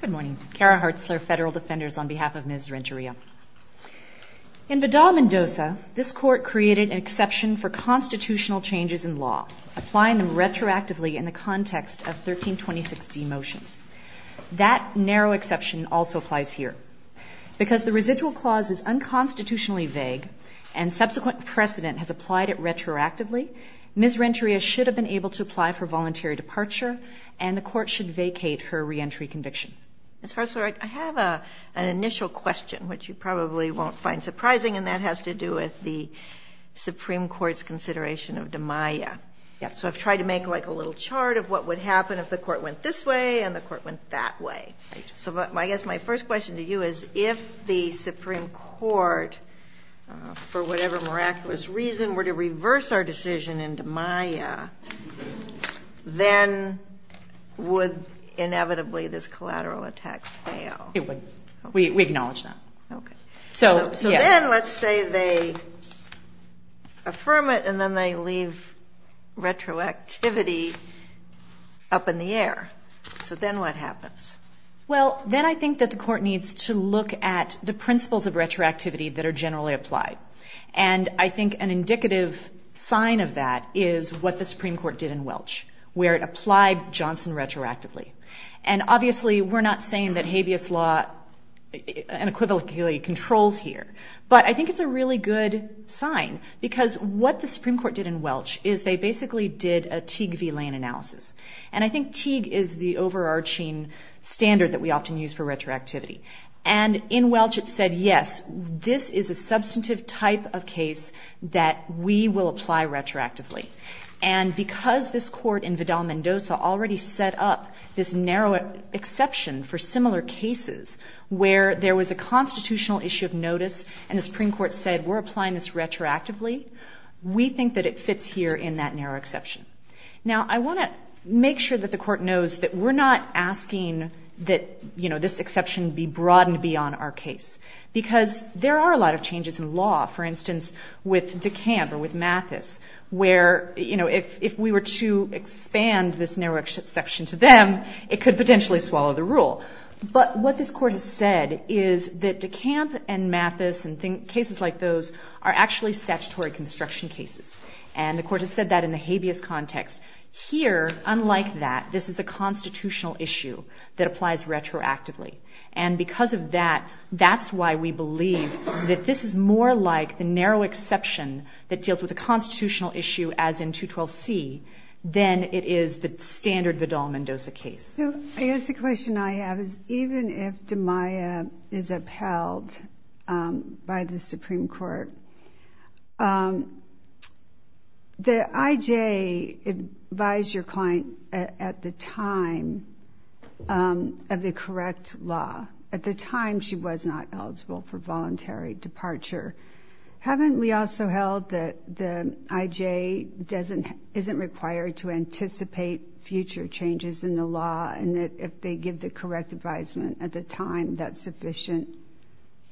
Good morning. Kara Hartzler, Federal Defenders, on behalf of Ms. Renteria. In Vidal-Mendoza, this Court created an exception for constitutional changes in law, applying them retroactively in the context of 1326d motions. That narrow exception also applies here. Because the residual clause is unconstitutionally vague, and subsequent precedent has applied it retroactively, Ms. Renteria should have been able to apply for voluntary departure, and the Court should vacate her reentry conviction. Ms. Hartzler, I have an initial question, which you probably won't find surprising, and that has to do with the Supreme Court's consideration of DiMaia. Yes. So I've tried to make, like, a little chart of what would happen if the Court went this way and the Court went that way. So I guess my first question to you is, if the Supreme Court, for whatever miraculous reason, were to reverse our decision in DiMaia, then would, inevitably, this collateral attack fail? It would. We acknowledge that. Okay. So, yes. So then let's say they affirm it, and then they leave retroactivity up in the air. So then what happens? Well, then I think that the Court needs to look at the principles of retroactivity that are generally applied. And I think an indicative sign of that is what the Supreme Court did in Welch, where it applied Johnson retroactively. And, obviously, we're not saying that habeas law and equivocally controls here, but I think it's a really good sign because what the Supreme Court did in Welch is they basically did a Teague v. Lane analysis. And I think Teague is the overarching standard that we often use for retroactivity. And in Welch, it said, yes, this is a substantive type of case that we will apply retroactively. And because this Court in Vidal-Mendoza already set up this narrow exception for similar cases where there was a constitutional issue of notice and the Supreme Court said, we're applying this retroactively, we think that it fits here in that narrow exception. Now, I want to make sure that the Court knows that we're not asking that, you know, this exception be broadened beyond our case, because there are a lot of changes in law, for instance, with DeCamp or with Mathis, where, you know, if we were to expand this narrow exception to them, it could potentially swallow the rule. But what this Court has said is that DeCamp and Mathis and cases like those are actually statutory construction cases. And the Court has said that in the habeas context. Here, unlike that, this is a constitutional issue that applies retroactively. And because of that, that's why we believe that this is more like the narrow exception that deals with a constitutional issue as in 212C than it is the standard Vidal-Mendoza case. So I guess the question I have is, even if DeMaia is upheld by the Supreme Court, the I.J. advised your client at the time of the correct law. At the time, she was not eligible for voluntary departure. Haven't we also held that the I.J. isn't required to anticipate future changes in the law and that if they give the correct advisement at the time, that's sufficient?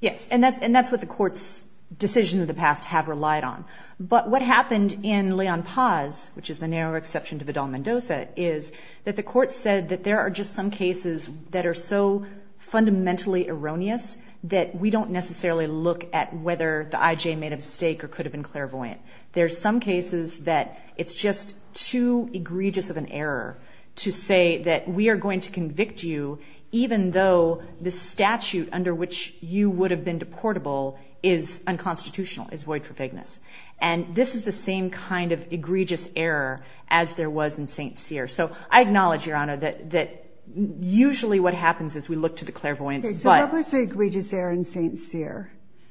Yes, and that's what the Court's decisions of the past have relied on. But what happened in Leon Paz, which is the narrow exception to Vidal-Mendoza, is that the Court said that there are just some cases that are so fundamentally erroneous that we don't necessarily look at whether the I.J. made a mistake or could have been clairvoyant. There are some cases that it's just too egregious of an error to say that we are going to convict you even though the statute under which you would have been deportable is unconstitutional, is void for vagueness. And this is the same kind of egregious error as there was in St. Cyr. So I acknowledge, Your Honor, that usually what happens is we look to the clairvoyance, but— Okay, so what was the egregious error in St. Cyr?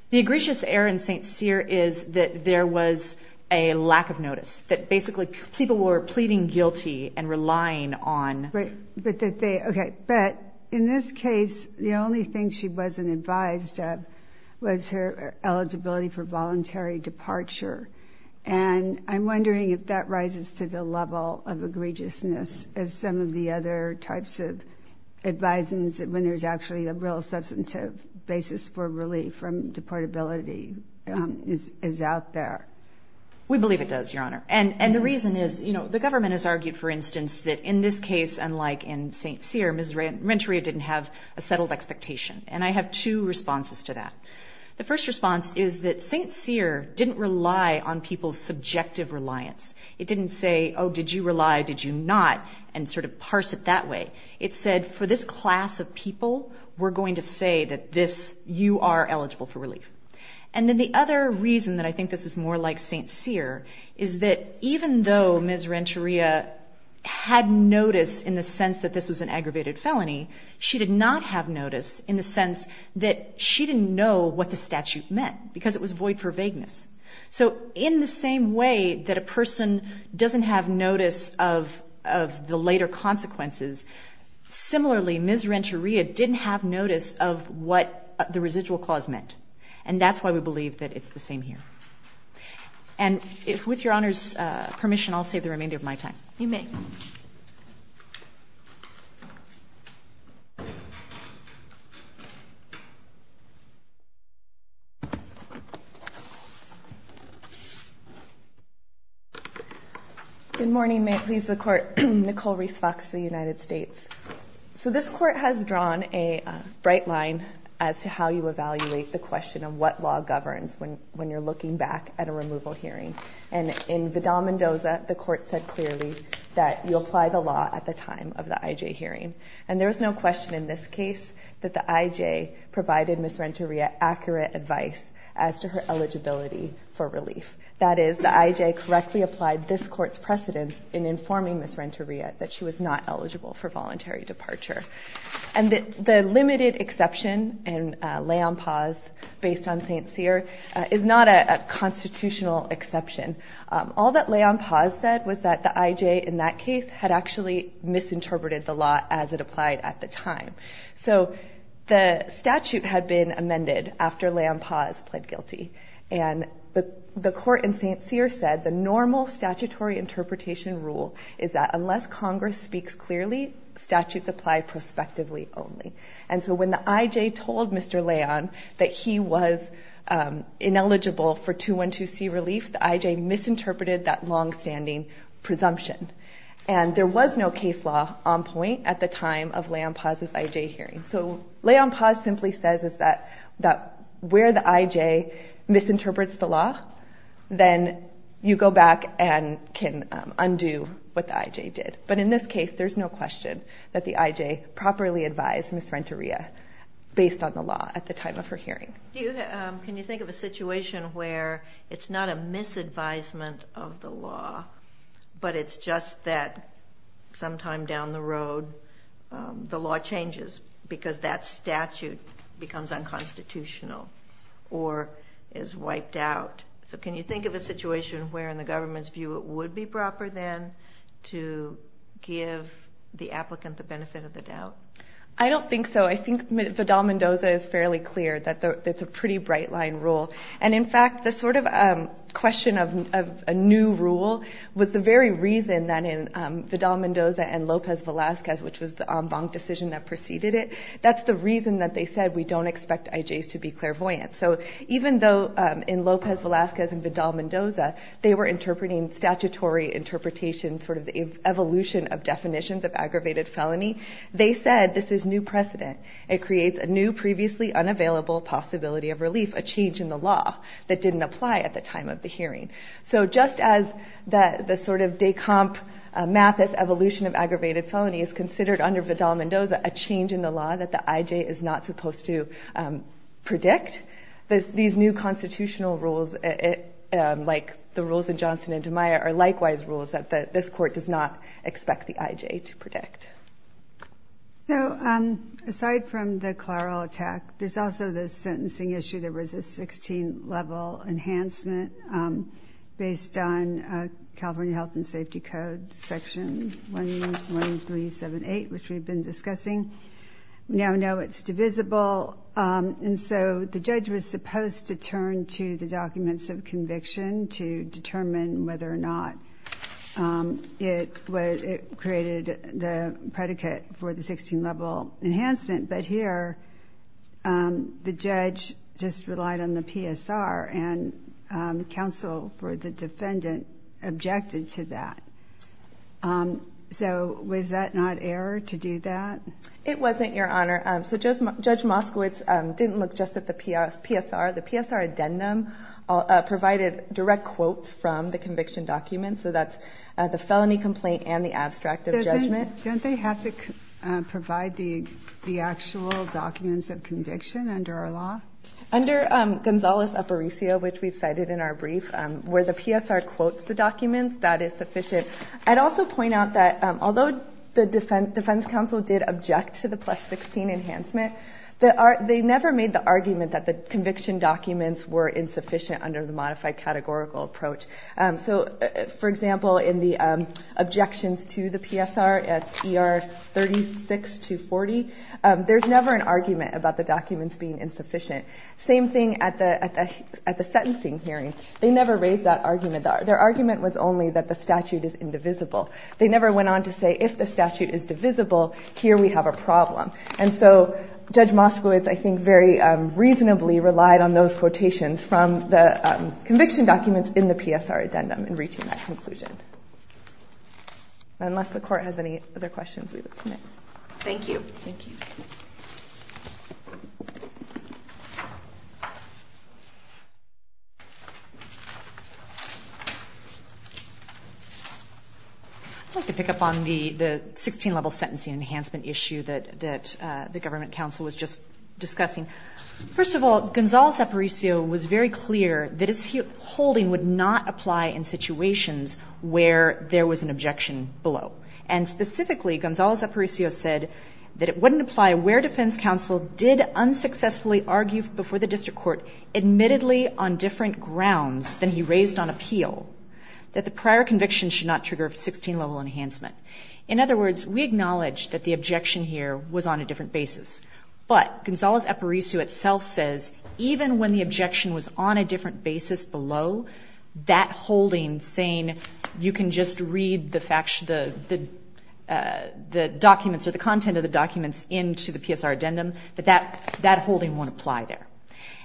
The egregious error in St. Cyr is that there was a lack of notice, that basically people were pleading guilty and relying on— But in this case, the only thing she wasn't advised of was her eligibility for voluntary departure. And I'm wondering if that rises to the level of egregiousness as some of the other types of advisants, when there's actually a real substantive basis for relief from deportability, is out there. We believe it does, Your Honor. And the reason is, you know, the government has argued, for instance, that in this case, unlike in St. Cyr, Ms. Renteria didn't have a settled expectation. And I have two responses to that. The first response is that St. Cyr didn't rely on people's subjective reliance. It didn't say, oh, did you rely, did you not, and sort of parse it that way. It said, for this class of people, we're going to say that this—you are eligible for relief. And then the other reason that I think this is more like St. Cyr is that even though Ms. Renteria had notice in the sense that this was an aggravated felony, she did not have notice in the sense that she didn't know what the statute meant, because it was void for vagueness. So in the same way that a person doesn't have notice of the later consequences, similarly, Ms. Renteria didn't have notice of what the residual clause meant. And that's why we believe that it's the same here. And with Your Honor's permission, I'll save the remainder of my time. You may. Good morning. May it please the Court. Nicole Reese Fox, the United States. So this Court has drawn a bright line as to how you evaluate the question of what law governs when you're looking back at a removal hearing. And in Vidal-Mendoza, the Court said clearly that you apply the law at the time of the IJ hearing. And there is no question in this case that the IJ provided Ms. Renteria accurate advice as to her eligibility for relief. That is, the IJ correctly applied this Court's precedence in informing Ms. Renteria that she was not eligible for voluntary departure. And the limited exception in Leon Paz, based on St. Cyr, is not a constitutional exception. All that Leon Paz said was that the IJ in that case had actually misinterpreted the law as it applied at the time. So the statute had been amended after Leon Paz pled guilty. And the Court in St. Cyr said the normal statutory interpretation rule is that unless Congress speaks clearly, statutes apply prospectively only. And so when the IJ told Mr. Leon that he was ineligible for 212C relief, the IJ misinterpreted that longstanding presumption. And there was no case law on point at the time of Leon Paz's IJ hearing. So Leon Paz simply says that where the IJ misinterprets the law, then you go back and can undo what the IJ did. But in this case, there's no question that the IJ properly advised Ms. Renteria based on the law at the time of her hearing. Can you think of a situation where it's not a misadvisement of the law, but it's just that sometime down the road the law changes because that statute becomes unconstitutional or is wiped out? So can you think of a situation where in the government's view it would be proper then to give the applicant the benefit of the doubt? I don't think so. I think Vidal-Mendoza is fairly clear that it's a pretty bright-line rule. And, in fact, the sort of question of a new rule was the very reason that in Vidal-Mendoza and Lopez-Velasquez, which was the en banc decision that preceded it, that's the reason that they said we don't expect IJs to be clairvoyant. So even though in Lopez-Velasquez and Vidal-Mendoza they were interpreting statutory interpretation, sort of the evolution of definitions of aggravated felony, they said this is new precedent. It creates a new previously unavailable possibility of relief, a change in the law that didn't apply at the time of the hearing. So just as the sort of de comp math, this evolution of aggravated felony, is considered under Vidal-Mendoza a change in the law that the IJ is not supposed to predict, these new constitutional rules, like the rules in Johnson and DiMaia, are likewise rules that this court does not expect the IJ to predict. So aside from the clerical attack, there's also the sentencing issue. There was a 16-level enhancement based on California Health and Safety Code Section 11378, which we've been discussing. We now know it's divisible, and so the judge was supposed to turn to the documents of conviction to determine whether or not it created the predicate for the 16-level enhancement. But here, the judge just relied on the PSR, and counsel for the defendant objected to that. So was that not error to do that? It wasn't, Your Honor. So Judge Moskowitz didn't look just at the PSR. The PSR addendum provided direct quotes from the conviction documents, so that's the felony complaint and the abstract of judgment. Don't they have to provide the actual documents of conviction under our law? Under Gonzales-Aparicio, which we've cited in our brief, where the PSR quotes the documents, that is sufficient. I'd also point out that although the defense counsel did object to the plus-16 enhancement, they never made the argument that the conviction documents were insufficient under the modified categorical approach. So, for example, in the objections to the PSR at ER 36-40, there's never an argument about the documents being insufficient. Same thing at the sentencing hearing. They never raised that argument. Their argument was only that the statute is indivisible. They never went on to say if the statute is divisible, here we have a problem. And so Judge Moskowitz, I think, very reasonably relied on those quotations from the conviction documents in the PSR addendum in reaching that conclusion. Unless the Court has any other questions we would submit. Thank you. Thank you. I'd like to pick up on the 16-level sentencing enhancement issue that the government counsel was just discussing. First of all, Gonzales-Aparicio was very clear that his holding would not apply in situations where there was an objection below. And specifically, Gonzales-Aparicio said that it wouldn't apply where defense counsel did unsuccessfully argue before the district court, admittedly on different grounds than he raised on appeal, that the prior conviction should not trigger a 16-level enhancement. In other words, we acknowledge that the objection here was on a different basis. But Gonzales-Aparicio itself says even when the objection was on a different basis below, that holding saying you can just read the documents or the content of the documents into the PSR addendum, that that holding won't apply there.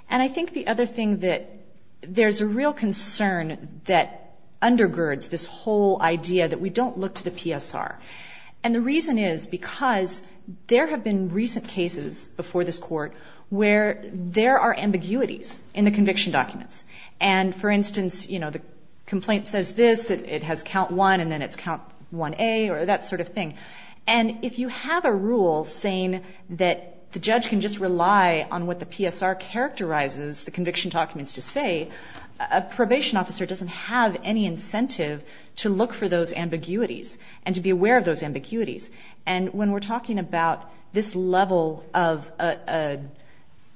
And I think the other thing that there's a real concern that undergirds this whole idea that we don't look to the PSR. And the reason is because there have been recent cases before this Court where there are ambiguities in the conviction documents. And, for instance, you know, the complaint says this, it has count one, and then it's count 1A or that sort of thing. And if you have a rule saying that the judge can just rely on what the PSR characterizes the conviction documents to say, a probation officer doesn't have any incentive to look for those ambiguities and to be aware of those ambiguities. And when we're talking about this level of a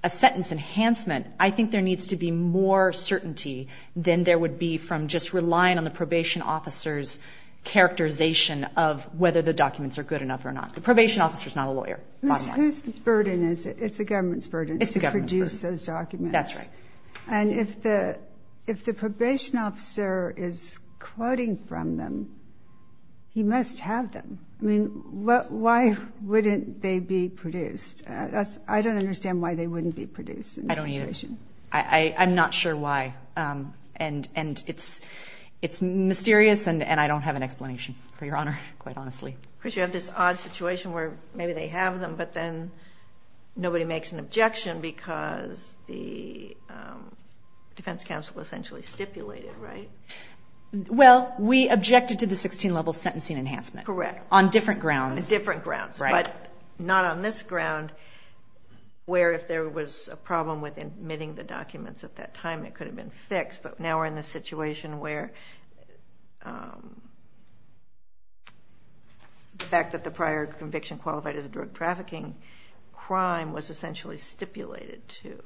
sentence enhancement, I think there needs to be more certainty than there would be from just relying on the probation officer's characterization of whether the documents are good enough or not. The probation officer is not a lawyer, bottom line. Who's burden is it? It's the government's burden. It's the government's burden. To produce those documents. That's right. And if the probation officer is quoting from them, he must have them. I mean, why wouldn't they be produced? I don't understand why they wouldn't be produced in this situation. I don't either. I'm not sure why. And it's mysterious, and I don't have an explanation, for your honor, quite honestly. Of course, you have this odd situation where maybe they have them, but then nobody makes an objection because the defense counsel essentially stipulated, right? Well, we objected to the 16-level sentencing enhancement. Correct. On different grounds. On different grounds. Right. But not on this ground, where if there was a problem with admitting the documents at that time, it could have been fixed. But now we're in the situation where the fact that the prior conviction qualified as a drug trafficking crime was essentially stipulated to.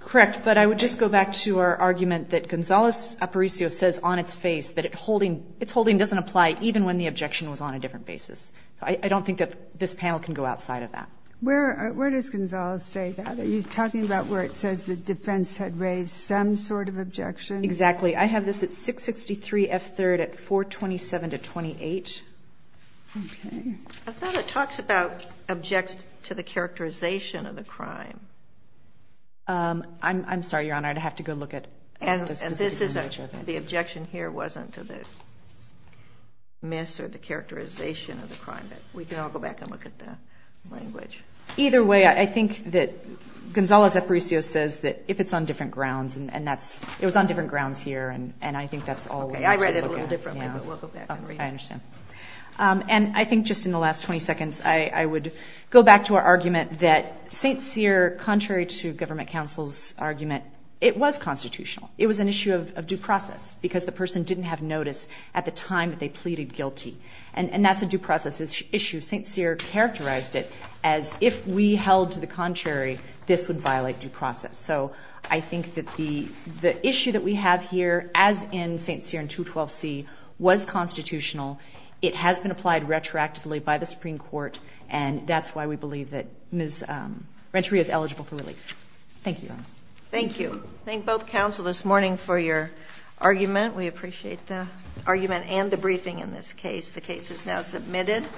Correct. But I would just go back to our argument that Gonzales-Aparicio says on its face that its holding doesn't apply, even when the objection was on a different basis. So I don't think that this panel can go outside of that. Where does Gonzales say that? Are you talking about where it says the defense had raised some sort of objection? Exactly. I have this at 663 F. 3rd at 427 to 28. Okay. I thought it talks about objects to the characterization of the crime. I'm sorry, your honor. I'd have to go look at this. The objection here wasn't to the miss or the characterization of the crime. We can all go back and look at the language. Either way, I think that Gonzales-Aparicio says that if it's on different grounds, and it was on different grounds here, and I think that's all we need to look at. Okay. I read it a little differently, but we'll go back and read it. I understand. And I think just in the last 20 seconds I would go back to our argument that St. Cyr, contrary to government counsel's argument, it was constitutional. It was an issue of due process because the person didn't have notice at the time that they pleaded guilty. And that's a due process issue. St. Cyr characterized it as if we held to the contrary, this would violate due process. So I think that the issue that we have here, as in St. Cyr and 212C, was constitutional. It has been applied retroactively by the Supreme Court, and that's why we believe that Ms. Renteria is eligible for relief. Thank you, your honor. Thank you. Thank both counsel this morning for your argument. We appreciate the argument and the briefing in this case. The case is now submitted.